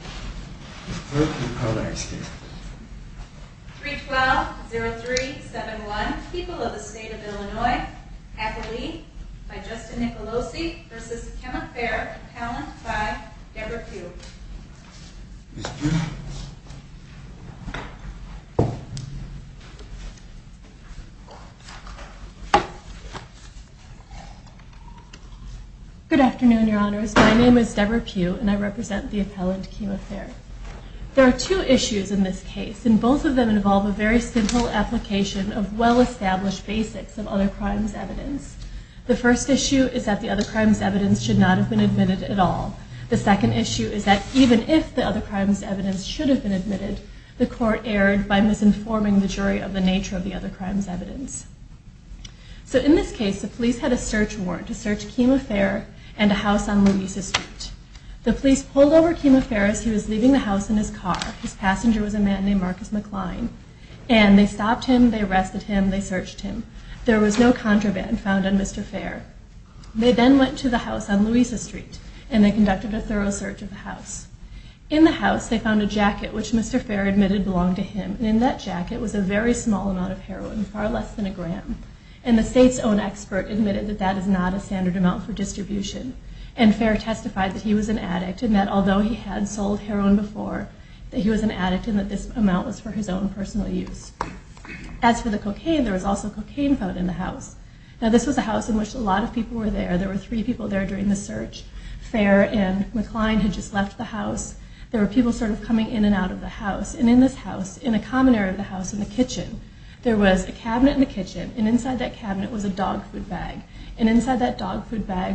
312-0371, People of the State of Illinois, Appellee by Justin Nicolosi v. Kenneth Fair, Appellant by Debra Pugh Good afternoon, Your Honors, my name is Debra There are two issues in this case, and both of them involve a very simple application of well-established basics of other crimes evidence. The first issue is that the other crimes evidence should not have been admitted at all. The second issue is that even if the other crimes evidence should have been admitted, the court erred by misinforming the jury of the nature of the other crimes evidence. So in this case, the police had a search warrant to search Kima Fair and a house on Louisa Street. The police pulled over Kima Fair as he was leaving the house in his car. His passenger was a man named Marcus McCline. And they stopped him, they arrested him, they searched him. There was no contraband found on Mr. Fair. They then went to the house on Louisa Street, and they conducted a thorough search of the house. In the house, they found a jacket which Mr. Fair admitted belonged to him, and in that jacket was a very small amount of heroin, far less than a gram. And the state's own expert admitted that that is not a standard amount for distribution. And Fair testified that he was an addict and that although he had sold heroin before, that he was an addict and that this amount was for his own personal use. As for the cocaine, there was also cocaine found in the house. Now this was a house in which a lot of people were there. There were three people there during the search. Fair and McCline had just left the house. There were people sort of coming in and out of the house. And in this house, in a common area of the house, in the kitchen, there was a cabinet in the kitchen, and inside that cabinet was a dog food bag,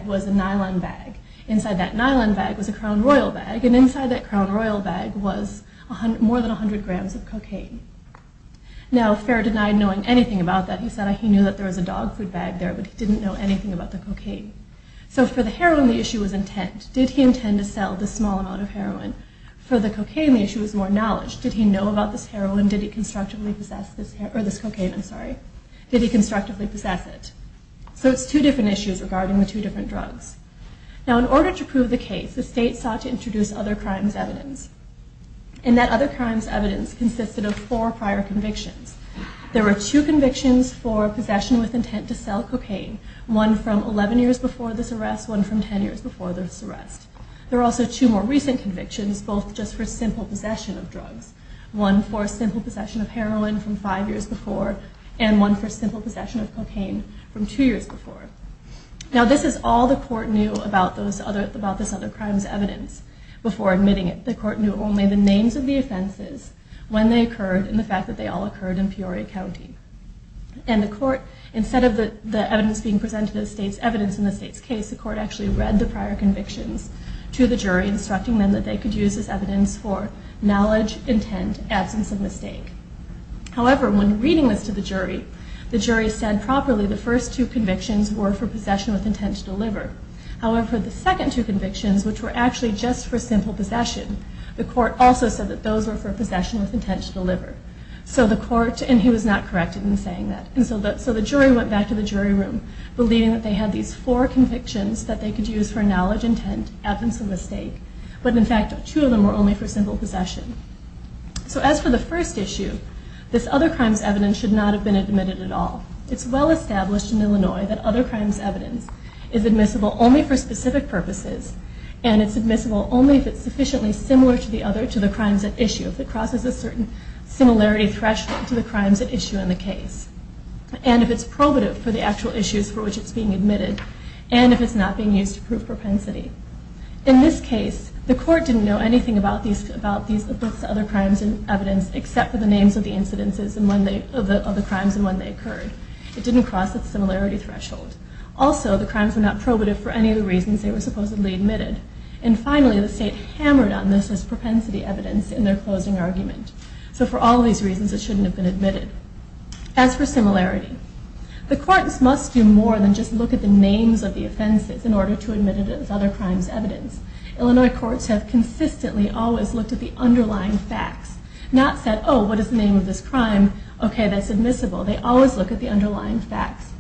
was a nylon bag. Inside that nylon bag was a Crown Royal bag, and inside that Crown Royal bag was more than 100 grams of cocaine. Now Fair denied knowing anything about that. He said he knew that there was a dog food bag there, but he didn't know anything about the cocaine. So for the heroin, the issue was intent. Did he intend to sell this small amount of heroin? For the cocaine, the issue was more knowledge. Did he know about this heroin? Did he constructively possess this cocaine? Did he constructively possess it? So it's two different issues regarding the two different drugs. Now in order to prove the case, the state sought to introduce other crimes evidence. And that other crimes evidence consisted of four prior convictions. There were two convictions for possession with intent to sell cocaine. One from 11 years before this arrest, one from 10 years before this arrest. There were also two more recent convictions, both just for simple possession of drugs. One for simple possession of heroin from five years before, and one for simple possession of cocaine from two years before. Now this is all the court knew about this other crimes evidence before admitting it. The court knew only the names of the offenses, when they occurred, and the fact that they all occurred in Peoria County. And the court, instead of the evidence being presented as evidence in the state's case, the court actually read the prior convictions to the jury, instructing them that they could use this evidence for knowledge, intent, absence of mistake. However, when reading this to the jury, the jury said properly the first two convictions were for possession with intent to deliver. However, the second two convictions, which were actually just for simple possession, the court also said that those were for possession with intent to deliver. So the court, and he was not corrected in saying that. So the jury went back to the jury room, believing that they had these four convictions that they could use for knowledge, intent, absence of mistake. But in fact, two of them were only for simple possession. So as for the first issue, this other crimes evidence should not have been admitted at all. It's well established in Illinois that other crimes evidence is admissible only for specific purposes, and it's admissible only if it's sufficiently similar to the other, to the crimes at issue. If it crosses a certain similarity threshold to the crimes at issue in the case, and if it's probative for the actual issues for which it's being admitted, and if it's not being used to prove propensity. In this case, the court didn't know anything about these other crimes evidence, except for the names of the incidences of the crimes and when they occurred. It didn't cross the similarity threshold. Also, the crimes were not probative for any of the reasons they were supposedly admitted. And finally, the state hammered on this as propensity evidence in their closing argument. So for all these reasons, it shouldn't have been admitted. As for similarity, the courts must do more than just look at the names of the offenses in order to admit it as other crimes evidence. Illinois courts have consistently always looked at the underlying facts, not said, oh, what is the name of this crime? Okay, that's admissible. They always look at the underlying facts.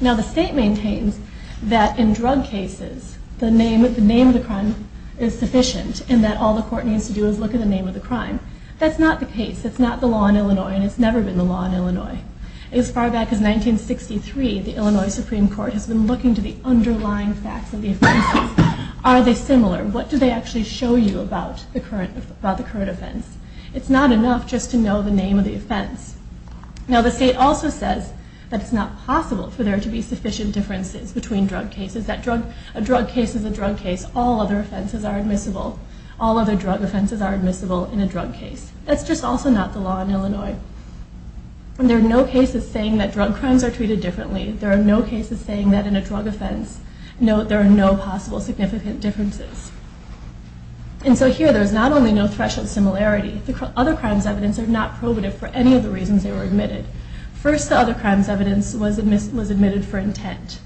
Now the state maintains that in drug cases, the name of the crime is sufficient, and that all the court needs to do is look at the name of the crime. That's not the case. That's not the law in Illinois, and it's never been the law in Illinois. As far back as 1963, the Illinois Supreme Court has been looking to the underlying facts of the offenses. Are they similar? What do they actually show you about the current offense? It's not enough just to know the name of the offense. Now the state also says that it's not possible for there to be sufficient differences between drug cases, that a drug case is a drug case. All other offenses are admissible. All other drug offenses are admissible in a drug case. That's just also not the law in Illinois. There are no cases saying that drug crimes are treated differently. There are no cases saying that in a drug offense, there are no possible significant differences. And so here, there's not only no threshold similarity, other crimes evidence are not probative for any of the reasons they were admitted. First, the other crimes evidence was admitted for intent.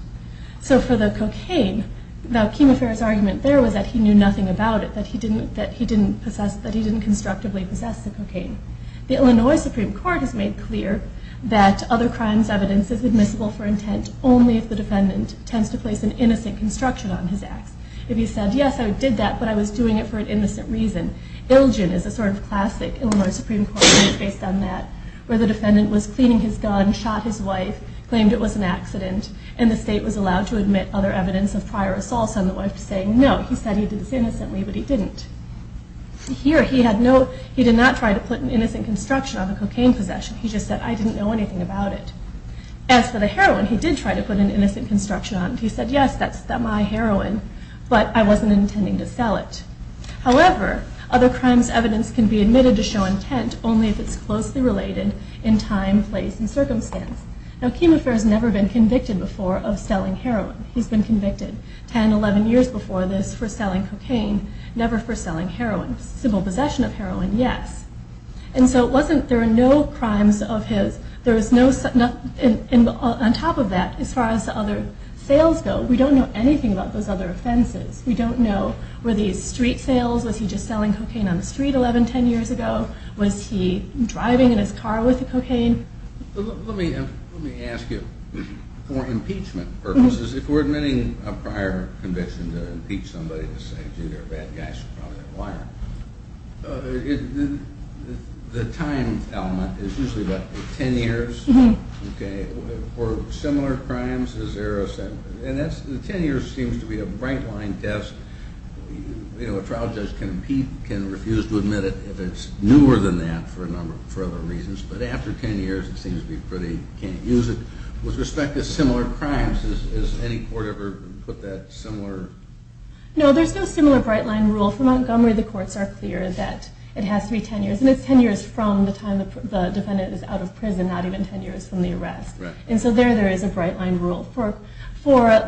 So for the cocaine, the chemotherapist's argument there was that he knew nothing about it, that he didn't constructively possess the cocaine. The Illinois Supreme Court has made clear that other crimes evidence is admissible for intent only if the defendant tends to place an innocent construction on his act. If he said, yes, I did that, but I was doing it for an innocent reason. Ilgin is a sort of classic Illinois Supreme Court case based on that, where the defendant was cleaning his gun, shot his wife, claimed it was an accident, and the state was allowed to admit other evidence of prior assaults on the wife saying, no, he said he did this innocently, but he didn't. Here, he did not try to put an innocent construction on the cocaine possession. He just said, I didn't know anything about it. As for the heroin, he did try to put an innocent construction on it. He said, yes, that's my heroin, but I wasn't intending to sell it. However, other crimes evidence can be admitted to show intent only if it's closely related in time, place, and circumstance. Now, Chemofare has never been convicted before of selling heroin. He's been convicted 10, 11 years before this for selling cocaine, never for selling heroin. Simple possession of heroin, yes. And so there are no crimes of his. On top of that, as far as the other sales go, we don't know anything about those other offenses. We don't know, were these street sales? Was he just selling cocaine on the street 11, 10 years ago? Was he driving in his car with the cocaine? Let me ask you, for impeachment purposes, if we're admitting a prior conviction to impeach somebody to say, they're a bad guy, so probably they're a liar, the time element is usually about 10 years. For similar crimes, is there a set? And the 10 years seems to be a right-line test. A trial judge can refuse to admit it if it's newer than that for a number of reasons. But after 10 years, it seems to be pretty you can't use it. With respect to similar crimes, has any court ever put that similar? No, there's no similar right-line rule. From Montgomery, the courts are clear that it has to be 10 years. And it's 10 years from the time the defendant is out of prison, not even 10 years from the arrest. And so there, there is a right-line rule for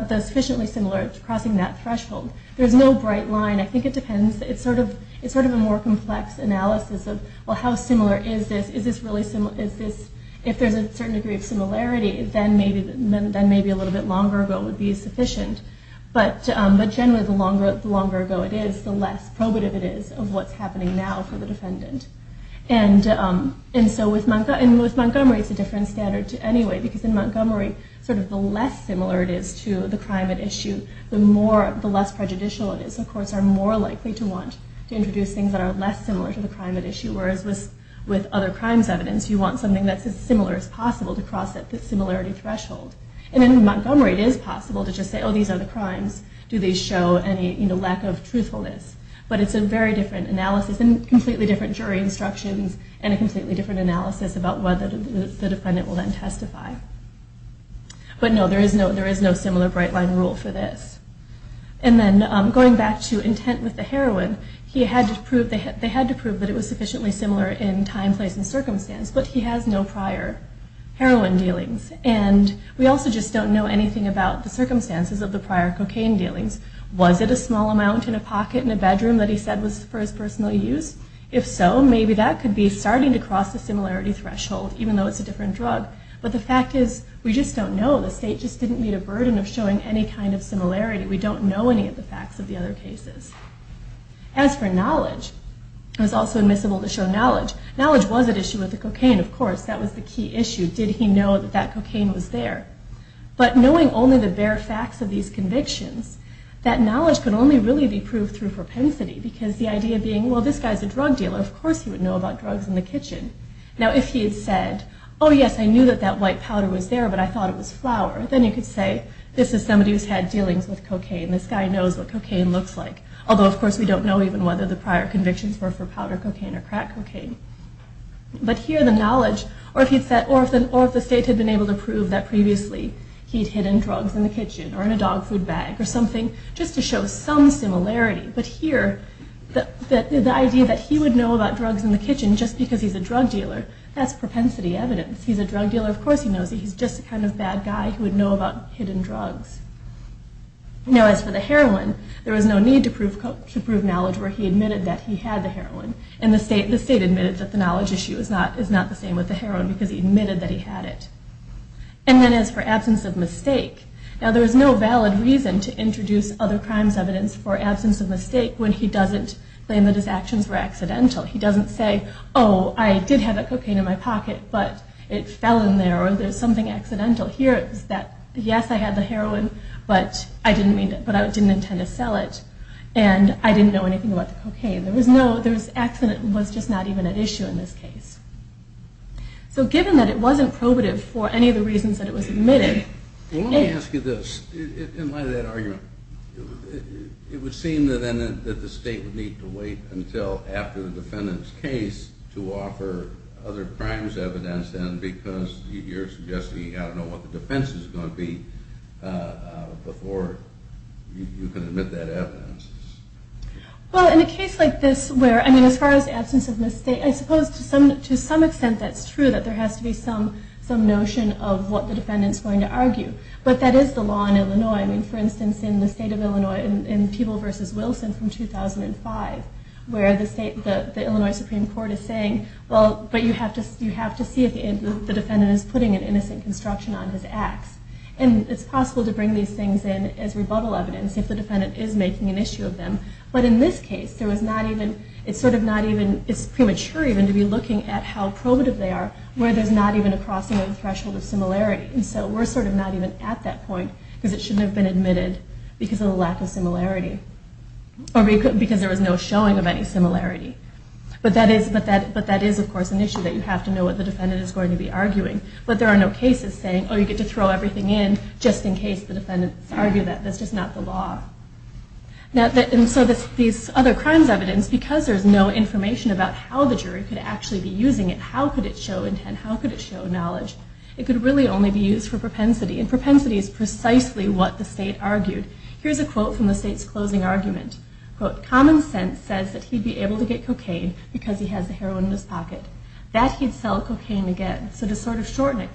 the sufficiently similar crossing that threshold. There's no right-line. I think it depends. It's sort of a more complex analysis of, well, how similar is this? Is this really similar? If there's a certain degree of similarity, then maybe a little bit longer ago would be sufficient. But generally, the longer ago it is, the less probative it is of what's happening now for the defendant. And so with Montgomery, it's a different standard anyway, because in Montgomery, sort of the less similar it is to the crime at issue, the less prejudicial it is. So courts are more likely to want to introduce things that are less similar to the crime at issue, whereas with other crimes evidence, you want something that's as similar as possible to cross that similarity threshold. And in Montgomery, it is possible to just say, oh, these are the crimes. Do they show any lack of truthfulness? But it's a very different analysis and completely different jury instructions and a completely different analysis about whether the defendant will then testify. But no, there is no similar right-line rule for this. And then going back to intent with the heroin, they had to prove that it was sufficiently similar in time, place, and circumstance, but he has no prior heroin dealings. And we also just don't know anything about the circumstances of the prior cocaine dealings. Was it a small amount in a pocket in a bedroom that he said was for his personal use? If so, maybe that could be starting to cross the similarity threshold, even though it's a different drug. But the fact is, we just don't know. The state just didn't meet a burden of showing any kind of similarity. We don't know any of the facts of the other cases. As for knowledge, it was also admissible to show knowledge. Knowledge was at issue with the cocaine, of course. That was the key issue. Did he know that that cocaine was there? But knowing only the bare facts of these convictions, that knowledge could only really be proved through propensity, because the idea being, well, this guy's a drug dealer. Of course he would know about drugs in the kitchen. Now, if he had said, oh, yes, I knew that that white powder was there, but I thought it was flour, then you could say, this is somebody who's had dealings with cocaine. This guy knows what cocaine looks like. Although, of course, we don't know even whether the prior convictions were for powder cocaine or crack cocaine. But here, the knowledge, or if the state had been able to prove that previously he'd hidden drugs in the kitchen, or in a dog food bag, or something, just to show some similarity. But here, the idea that he would know about drugs in the kitchen just because he's a drug dealer, that's propensity evidence. He's a drug dealer. Of course he knows that he's just a kind of bad guy who would know about hidden drugs. Now, as for the heroin, there was no need to prove knowledge where he admitted that he had the heroin. And the state admitted that the knowledge issue is not the same with the heroin, because he admitted that he had it. And then, as for absence of mistake, now, there was no valid reason to introduce other crimes evidence for absence of mistake when he doesn't claim that his actions were accidental. He doesn't say, oh, I did have that cocaine in my pocket, but it fell in there, or there's something accidental. Here, it's that, yes, I had the heroin, but I didn't intend to sell it, and I didn't know anything about the cocaine. There was no accident that was just not even at issue in this case. So given that it wasn't probative for any of the reasons that it was admitted... Well, let me ask you this. In light of that argument, it would seem, then, that the state would need to wait until after the defendant's case to offer other crimes evidence, then, because you're suggesting you've got to know what the defense is going to be before you can admit that evidence. Well, in a case like this where, I mean, as far as absence of mistake, I suppose, to some extent, that's true, that there has to be some notion of what the defendant's going to argue. But that is the law in Illinois. I mean, for instance, in the state of Illinois, in Peeble v. Wilson from 2005, where the Illinois Supreme Court is saying, well, but you have to see if the defendant is putting an innocent construction on his ax. And it's possible to bring these things in as rebuttal evidence if the defendant is making an issue of them. But in this case, it's sort of not even... It's premature even to be looking at how probative they are where there's not even a crossing of the threshold of similarity. And so we're sort of not even at that point because it shouldn't have been admitted because of the lack of similarity or because there was no showing of any similarity. But that is, of course, an issue that you have to know what the defendant is going to be arguing. But there are no cases saying, oh, you get to throw everything in just in case the defendants argue that. That's just not the law. And so these other crimes evidence, because there's no information about how the jury could actually be using it, how could it show intent, how could it show knowledge, it could really only be used for propensity. And propensity is precisely what the state argued. Here's a quote from the state's closing argument. Quote, common sense says that he'd be able to get cocaine because he has the heroin in his pocket, that he'd sell cocaine again. So to sort of shorten it,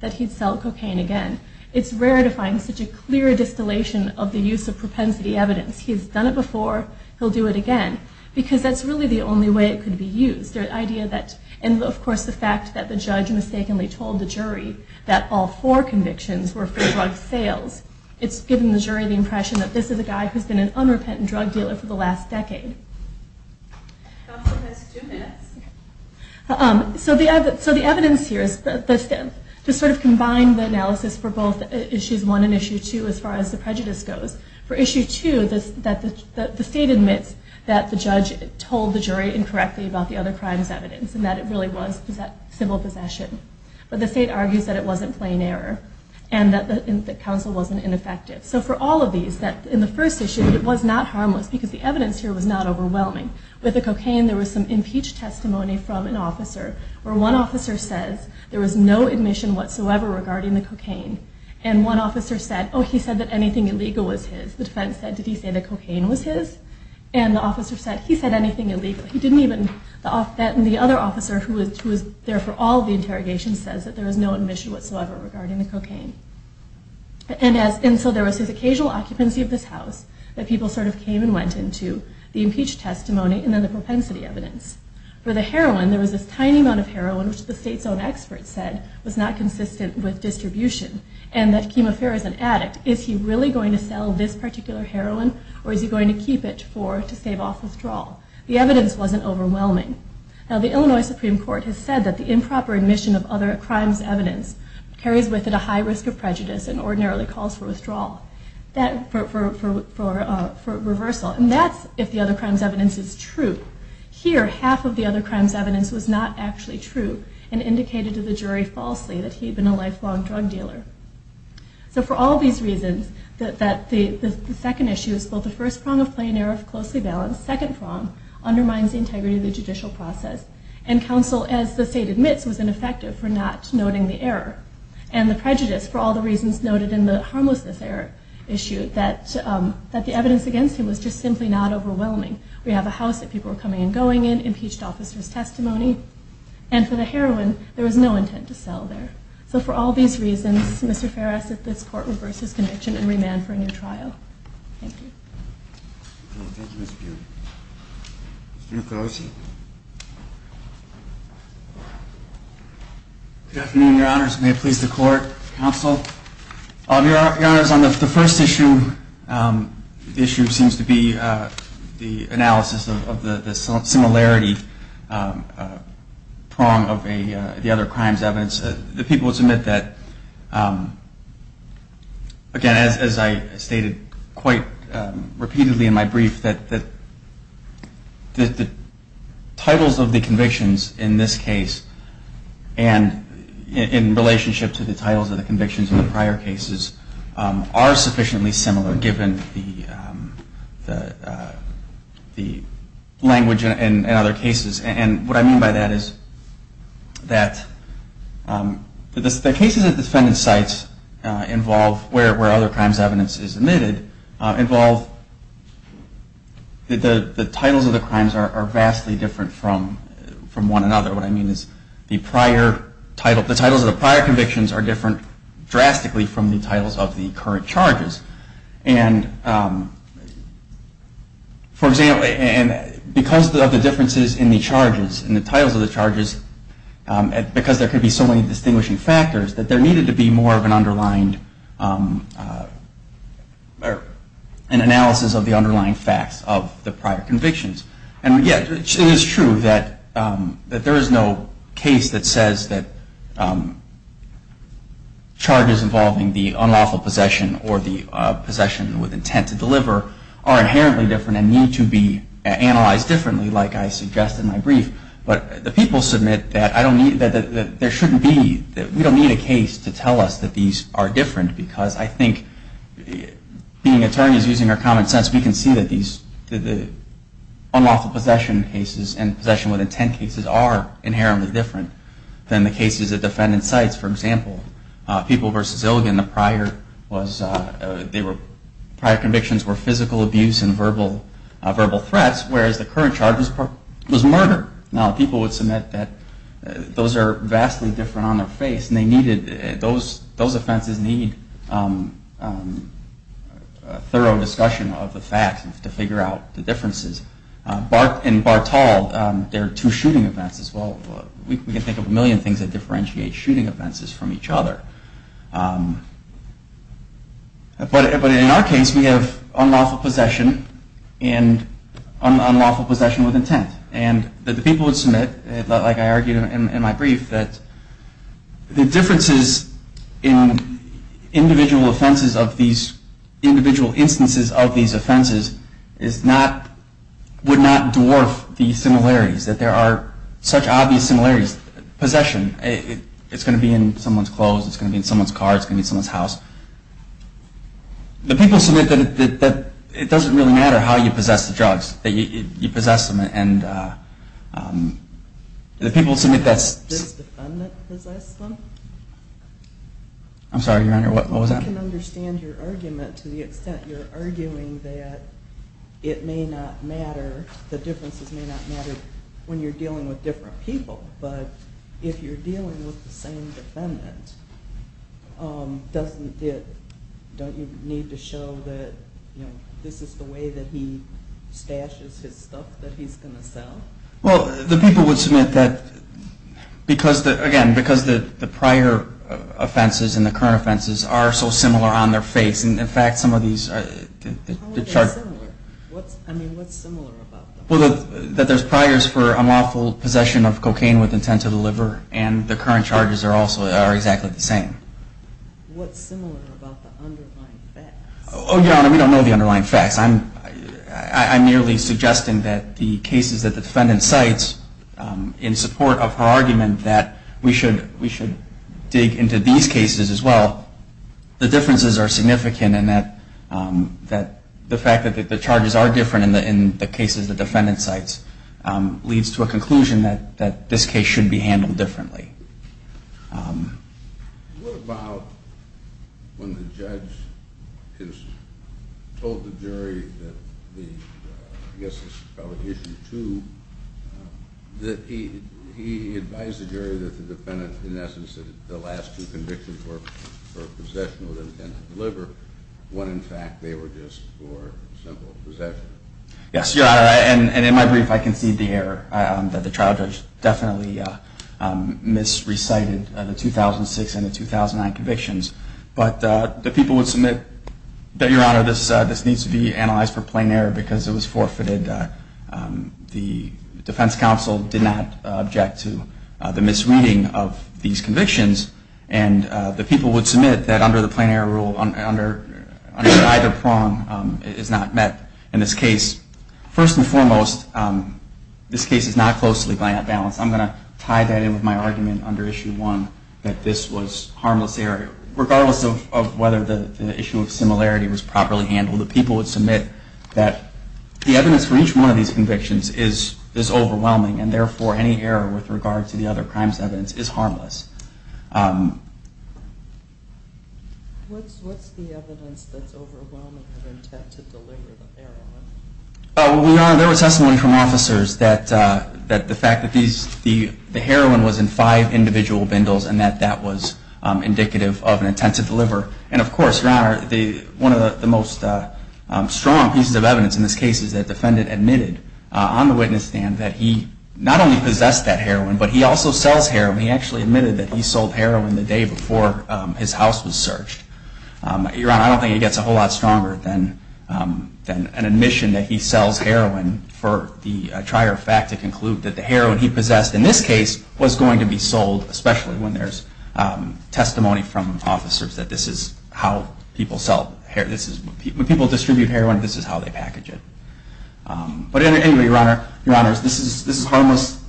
that he'd sell cocaine again. It's rare to find such a clear distillation of the use of propensity evidence. He's done it before, he'll do it again. Because that's really the only way it could be used. The idea that, and of course the fact that the judge mistakenly told the jury that all four convictions were for drug sales. It's given the jury the impression that this is a guy who's been an unrepentant drug dealer for the last decade. Counsel has two minutes. So the evidence here is, to sort of combine the analysis for both issues one and issue two as far as the prejudice goes. For issue two, the state admits that the judge told the jury incorrectly about the other crime's evidence and that it really was civil possession. But the state argues that it wasn't plain error and that the counsel wasn't ineffective. So for all of these, in the first issue it was not harmless because the evidence here was not overwhelming. With the cocaine, there was some impeached testimony from an officer where one officer says there was no admission whatsoever regarding the cocaine. And one officer said, oh, he said that anything illegal was his. The defense said, did he say the cocaine was his? And the officer said, he said anything illegal. He didn't even... And the other officer who was there for all the interrogations says that there was no admission whatsoever regarding the cocaine. And so there was this occasional occupancy of this house that people sort of came and went into, the impeached testimony, and then the propensity evidence. For the heroin, there was this tiny amount of heroin which the state's own experts said was not consistent with distribution and that chemotherapy as an addict, is he really going to sell this particular heroin or is he going to keep it to save off withdrawal? The evidence wasn't overwhelming. Now the Illinois Supreme Court has said that the improper admission of other crimes' evidence carries with it a high risk of prejudice and ordinarily calls for withdrawal. For reversal. And that's if the other crime's evidence is true. Here, half of the other crime's evidence was not actually true and indicated to the jury falsely that he had been a lifelong drug dealer. So for all these reasons, the second issue is both the first prong of plain error of closely balanced, second prong undermines the integrity of the judicial process. And counsel, as the state admits, was ineffective for not noting the error. And the prejudice, for all the reasons noted in the harmlessness error issue, that the evidence against him was just simply not overwhelming. We have a house that people were coming and going in, impeached officers' testimony, and for the heroin, there was no intent to sell there. So for all these reasons, Mr. Farris, this court reverses conviction and remand for a new trial. Thank you. Thank you, Mr. Pugh. Mr. McCloskey. Good afternoon, Your Honors. May it please the court, counsel. Your Honors, on the first issue, the issue seems to be the analysis of the similarity prong of the other crime's evidence. The people submit that, again, as I stated quite repeatedly in my brief, that the titles of the convictions in this case, and in relationship to the titles of the convictions in the prior cases, are sufficiently similar, given the language in other cases. And what I mean by that is that the cases at defendant's sites involve, where other crime's evidence is omitted, involve that the titles of the crimes are vastly different from one another. What I mean is the titles of the prior convictions are different drastically from the titles of the current charges. And, for example, because of the differences in the charges, in the titles of the charges, because there could be so many distinguishing factors, that there needed to be more of an analysis of the underlying facts of the prior convictions. And yet it is true that there is no case that says that charges involving the unlawful possession or the possession with intent to deliver are inherently different and need to be analyzed differently, like I suggested in my brief. But the people submit that there shouldn't be, that we don't need a case to tell us that these are different, because I think, being attorneys using our common sense, we can see that the unlawful possession cases and possession with intent cases are inherently different than the cases at defendant's sites. For example, People v. Ilgan, the prior convictions were physical abuse and verbal threats, whereas the current charge was murder. Now, people would submit that those are vastly different on their face, and they needed, those offenses need a thorough discussion of the facts to figure out the differences. In Bartall, there are two shooting offenses. Well, we can think of a million things that differentiate shooting offenses from each other. But in our case, we have unlawful possession and unlawful possession with intent. And the people would submit, like I argued in my brief, that the differences in individual offenses of these individual instances of these offenses would not dwarf the similarities, that there are such obvious similarities. Possession, it's going to be in someone's clothes. It's going to be in someone's car. It's going to be in someone's house. The people submit that it doesn't really matter how you possess the drugs, that you possess them, and the people submit that. Does the defendant possess them? I'm sorry, Your Honor, what was that? I can understand your argument to the extent you're arguing that it may not matter, the differences may not matter when you're dealing with different people, but if you're dealing with the same defendant, don't you need to show that this is the way that he stashes his stuff that he's going to sell? Well, the people would submit that, again, because the prior offenses and the current offenses are so similar on their face, and, in fact, some of these are. How are they similar? I mean, what's similar about them? Well, that there's priors for unlawful possession of cocaine with intent to deliver, and the current charges are exactly the same. What's similar about the underlying facts? Oh, Your Honor, we don't know the underlying facts. I'm merely suggesting that the cases that the defendant cites, in support of her argument that we should dig into these cases as well, the differences are significant and that the fact that the charges are different in the cases the defendant cites leads to a conclusion that this case should be handled differently. What about when the judge has told the jury that the, I guess this is probably Issue 2, that he advised the jury that the defendant, in essence, that the last two convictions were for possession with intent to deliver, when, in fact, they were just for simple possession? Yes, Your Honor. And in my brief, I concede the error that the trial judge definitely misrecited the 2006 and the 2009 convictions. But the people would submit that, Your Honor, this needs to be analyzed for plain error because it was forfeited. The defense counsel did not object to the misreading of these convictions. And the people would submit that under the plain error rule, under either prong, it is not met in this case. First and foremost, this case is not closely balanced. I'm going to tie that in with my argument under Issue 1 that this was harmless error. Regardless of whether the issue of similarity was properly handled, the people would submit that the evidence for each one of these convictions is overwhelming and, therefore, any error with regard to the other crimes evidence is harmless. What's the evidence that's overwhelming of intent to deliver the heroin? Well, Your Honor, there was testimony from officers that the fact that the heroin was in five individual bindles and that that was indicative of an intent to deliver. And, of course, Your Honor, one of the most strong pieces of evidence in this case is that the defendant admitted on the witness stand that he not only possessed that heroin, but he also sells heroin. He actually admitted that he sold heroin the day before his house was searched. Your Honor, I don't think it gets a whole lot stronger than an admission that he sells heroin for the trier of fact to conclude that the heroin he possessed in this case was going to be sold, especially when there's testimony from officers that this is how people sell heroin. When people distribute heroin, this is how they package it. But anyway, Your Honor, this is harmless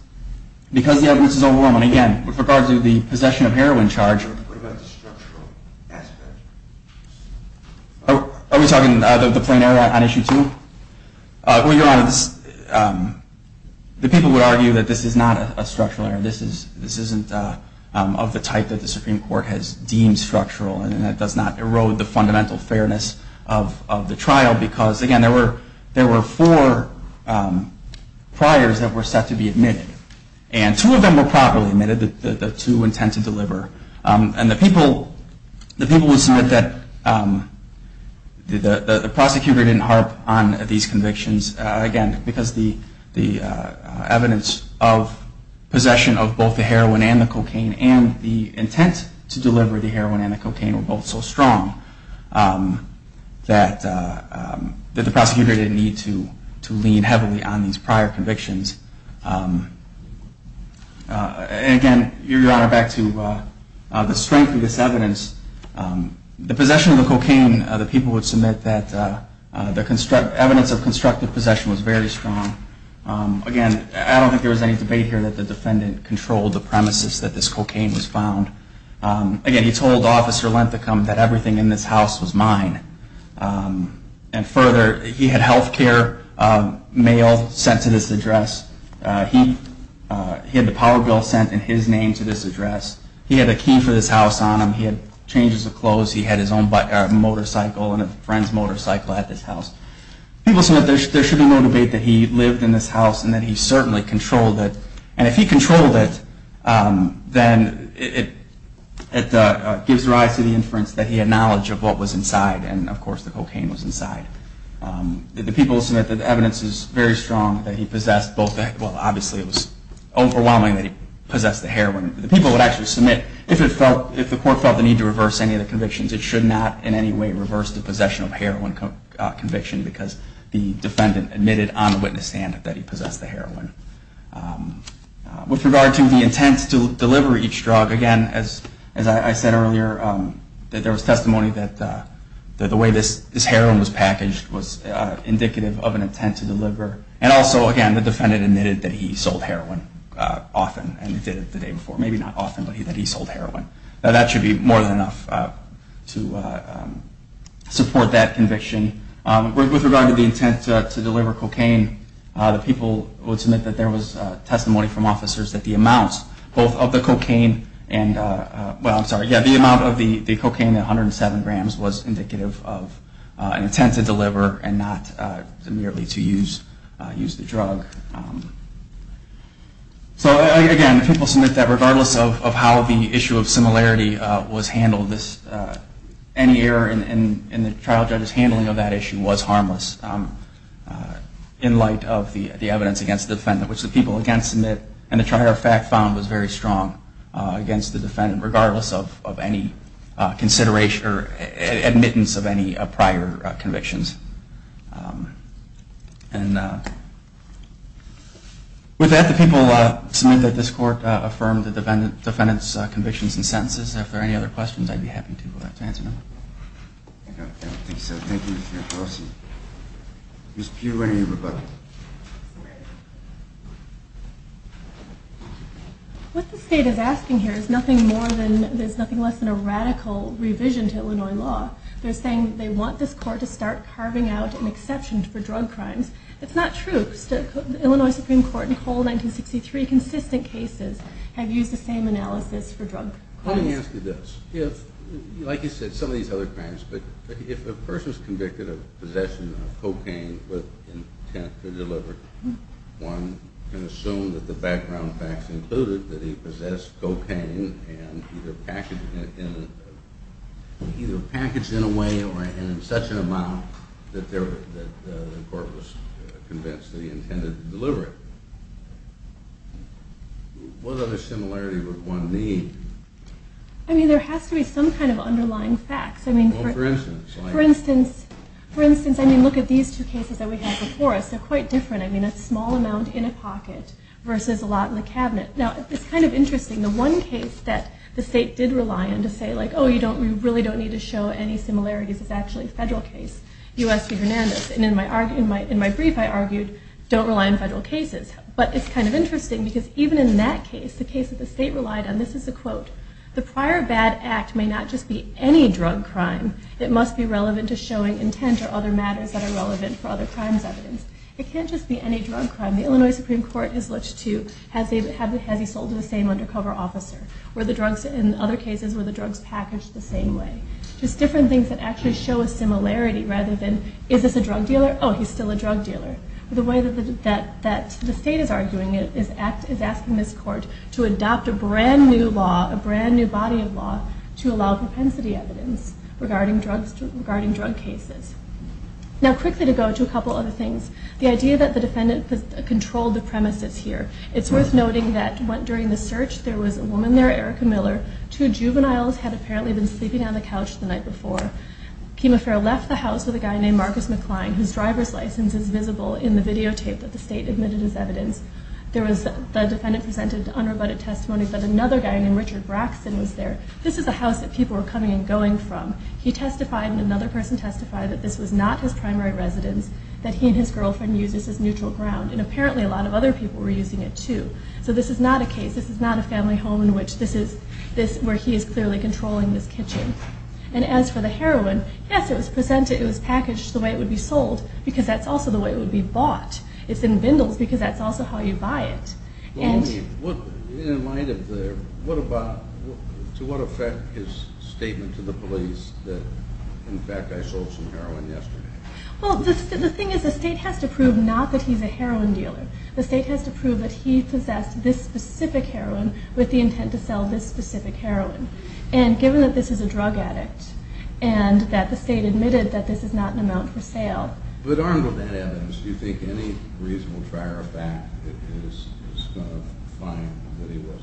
because the evidence is overwhelming. Again, with regard to the possession of heroin charge. What about the structural aspect? Are we talking about the plain error on Issue 2? Well, Your Honor, the people would argue that this is not a structural error. This isn't of the type that the Supreme Court has deemed structural. And that does not erode the fundamental fairness of the trial because, again, there were four priors that were set to be admitted. And two of them were properly admitted, the two intent to deliver. And the people would submit that the prosecutor didn't harp on these convictions, again, because the evidence of possession of both the heroin and the cocaine and the intent to deliver the heroin and the cocaine were both so strong that the prosecutor didn't need to lean heavily on these prior convictions. And again, Your Honor, back to the strength of this evidence. The possession of the cocaine, the people would submit that the evidence of constructive possession was very strong. Again, I don't think there was any debate here that the defendant controlled the premises that this cocaine was found. Again, he told Officer Lenthecum that everything in this house was mine. And further, he had health care mail sent to this address. He had the power bill sent in his name to this address. He had a key for this house on him. He had changes of clothes. He had his own motorcycle and a friend's motorcycle at this house. People submit there should be no debate that he lived in this house and that he certainly controlled it. And if he controlled it, then it gives rise to the inference that he had knowledge of what was inside, and, of course, the cocaine was inside. The people submit that the evidence is very strong that he possessed both the heroin. Well, obviously, it was overwhelming that he possessed the heroin. The people would actually submit if the court felt the need to reverse any of the convictions, it should not in any way reverse the possession of heroin conviction because the defendant admitted on the witness stand that he possessed the heroin. With regard to the intent to deliver each drug, again, as I said earlier, there was testimony that the way this heroin was packaged was indicative of an intent to deliver. And also, again, the defendant admitted that he sold heroin often and did it the day before. Maybe not often, but he said he sold heroin. Now, that should be more than enough to support that conviction. With regard to the intent to deliver cocaine, the people would submit that there was testimony from officers that the amount of the cocaine at 107 grams was indicative of an intent to deliver and not merely to use the drug. So, again, the people submit that regardless of how the issue of similarity was handled, any error in the trial judge's handling of that issue was harmless in light of the evidence against the defendant, which the people again submit and the trial judge found was very strong against the defendant regardless of any admittance of any prior convictions. And with that, the people submit that this court affirmed the defendant's convictions and sentences. If there are any other questions, I'd be happy to answer them. I don't think so. Thank you, Mr. McCloskey. Ms. Pugh, any rebuttal? What the state is asking here is nothing more than, there's nothing less than a radical revision to Illinois law. They're saying they want this court to start carving out an exception for drug crimes. It's not true. The Illinois Supreme Court in Cole, 1963, consistent cases have used the same analysis for drug crimes. Let me ask you this. Like you said, some of these other crimes, but if a person is convicted of possession of cocaine with intent to deliver, one can assume that the background facts included that he possessed cocaine and either packaged in a way or in such an amount that the court was convinced that he intended to deliver it. What other similarity would one need? I mean, there has to be some kind of underlying facts. For instance, look at these two cases that we have before us. They're quite different. I mean, a small amount in a pocket versus a lot in the cabinet. Now, it's kind of interesting. The one case that the state did rely on to say, like, oh, you really don't need to show any similarities is actually a federal case, U.S. v. Hernandez. And in my brief, I argued, don't rely on federal cases. But it's kind of interesting because even in that case, the case that the state relied on, this is a quote, the prior bad act may not just be any drug crime. It must be relevant to showing intent or other matters that are relevant for other crimes evidence. It can't just be any drug crime. The Illinois Supreme Court has looked to, has he sold to the same undercover officer? In other cases, were the drugs packaged the same way? Just different things that actually show a similarity rather than, is this a drug dealer? Oh, he's still a drug dealer. The way that the state is arguing it is asking this court to adopt a brand new law, a brand new body of law to allow propensity evidence regarding drug cases. Now, quickly to go to a couple other things. The idea that the defendant controlled the premises here. It's worth noting that during the search, there was a woman there, Erica Miller. Two juveniles had apparently been sleeping on the couch the night before. Kima Fair left the house with a guy named Marcus McCline, whose driver's license is visible in the videotape that the state admitted as evidence. The defendant presented unrebutted testimony that another guy named Richard Braxton was there. This is a house that people were coming and going from. He testified and another person testified that this was not his primary residence, that he and his girlfriend used this as neutral ground, and apparently a lot of other people were using it too. So this is not a case. This is not a family home where he is clearly controlling this kitchen. And as for the heroin, yes, it was packaged the way it would be sold because that's also the way it would be bought. It's in bindles because that's also how you buy it. To what effect is statement to the police that, in fact, I sold some heroin yesterday? Well, the thing is the state has to prove not that he's a heroin dealer. The state has to prove that he possessed this specific heroin with the intent to sell this specific heroin. And given that this is a drug addict and that the state admitted that this is not an amount for sale. But armed with that evidence, do you think any reasonable trier of fact is going to find that he was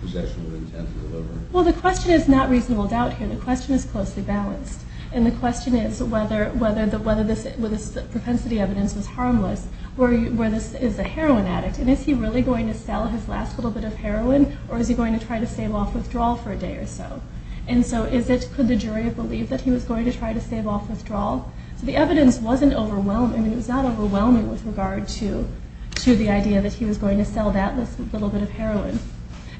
possessing with intent to deliver? Well, the question is not reasonable doubt here. The question is closely balanced. And the question is whether this propensity evidence was harmless where this is a heroin addict. And is he really going to sell his last little bit of heroin or is he going to try to stave off withdrawal for a day or so? And so could the jury have believed that he was going to try to stave off withdrawal? So the evidence wasn't overwhelming. It was not overwhelming with regard to the idea that he was going to sell that little bit of heroin.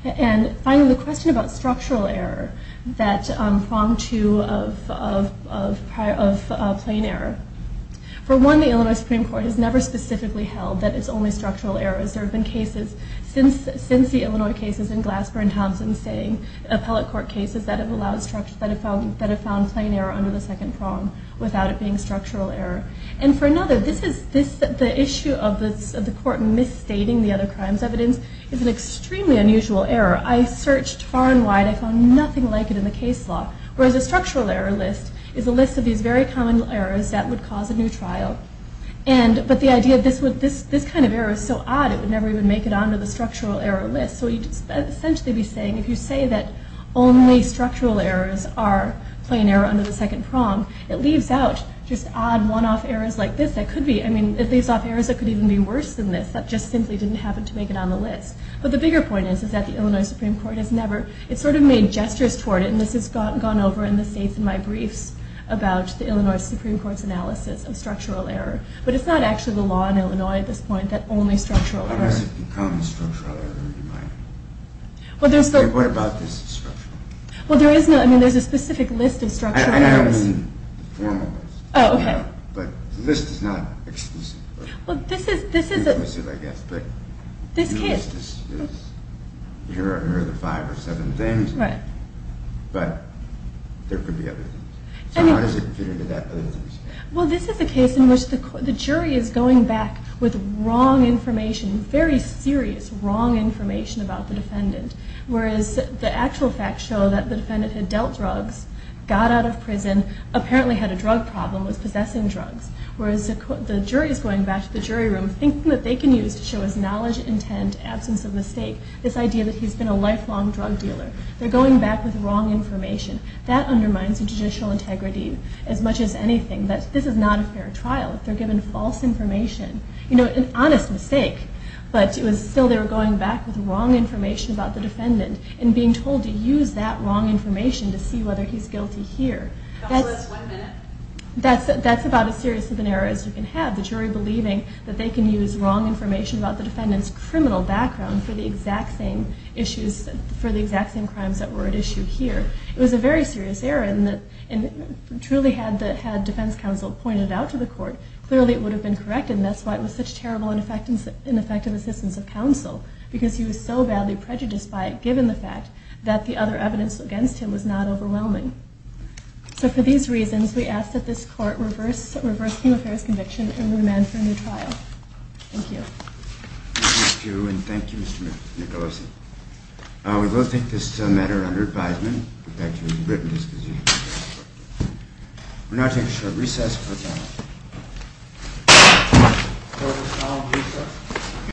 And finally, the question about structural error, that prong to of plain error. For one, the Illinois Supreme Court has never specifically held that it's only structural errors. There have been cases since the Illinois cases in Glassburn, Thompson, saying appellate court cases that have found plain error under the second prong without it being structural error. And for another, the issue of the court misstating the other crimes evidence is an extremely unusual error. I searched far and wide. I found nothing like it in the case law. Whereas a structural error list is a list of these very common errors that would cause a new trial. But the idea of this kind of error is so odd it would never even make it onto the structural error list. So you'd essentially be saying if you say that only structural errors are plain error under the second prong, it leaves out just odd one-off errors like this that could be. I mean, it leaves off errors that could even be worse than this that just simply didn't happen to make it on the list. But the bigger point is that the Illinois Supreme Court has never it's sort of made gestures toward it, and this has gone over in the states in my briefs about the Illinois Supreme Court's analysis of structural error. But it's not actually the law in Illinois at this point that only structural errors Unless it becomes structural error in mind. What about this structural error? Well, there is no, I mean, there's a specific list of structural errors. And I don't mean the formal list. Oh, okay. But the list is not exclusive. Well, this is, this is... Exclusive, I guess, but... This case... The list is, here are the five or seven things. Right. But there could be other things. So how does it fit into that other things? Well, this is a case in which the jury is going back with wrong information, very serious wrong information about the defendant. Whereas the actual facts show that the defendant had dealt drugs, got out of prison, apparently had a drug problem, was possessing drugs. Whereas the jury is going back to the jury room, thinking that they can use to show his knowledge, intent, absence of mistake, this idea that he's been a lifelong drug dealer. They're going back with wrong information. That undermines the judicial integrity as much as anything. This is not a fair trial. They're given false information. You know, an honest mistake. But still they were going back with wrong information about the defendant and being told to use that wrong information to see whether he's guilty here. That's less than one minute? That's about as serious of an error as you can have, the jury believing that they can use wrong information about the defendant's criminal background for the exact same issues, for the exact same crimes that were at issue here. It was a very serious error, and truly had defense counsel pointed it out to the court, clearly it would have been corrected, and that's why it was such terrible and ineffective assistance of counsel, because he was so badly prejudiced by it, given the fact that the other evidence against him was not overwhelming. So for these reasons, we ask that this court reverse Kim O'Hara's conviction and remand for a new trial. Thank you. Thank you. And thank you, Mr. Nicolosi. We will take this matter under advisement. We'll get back to you in written discussion. We're now taking a short recess. Court is now in recess.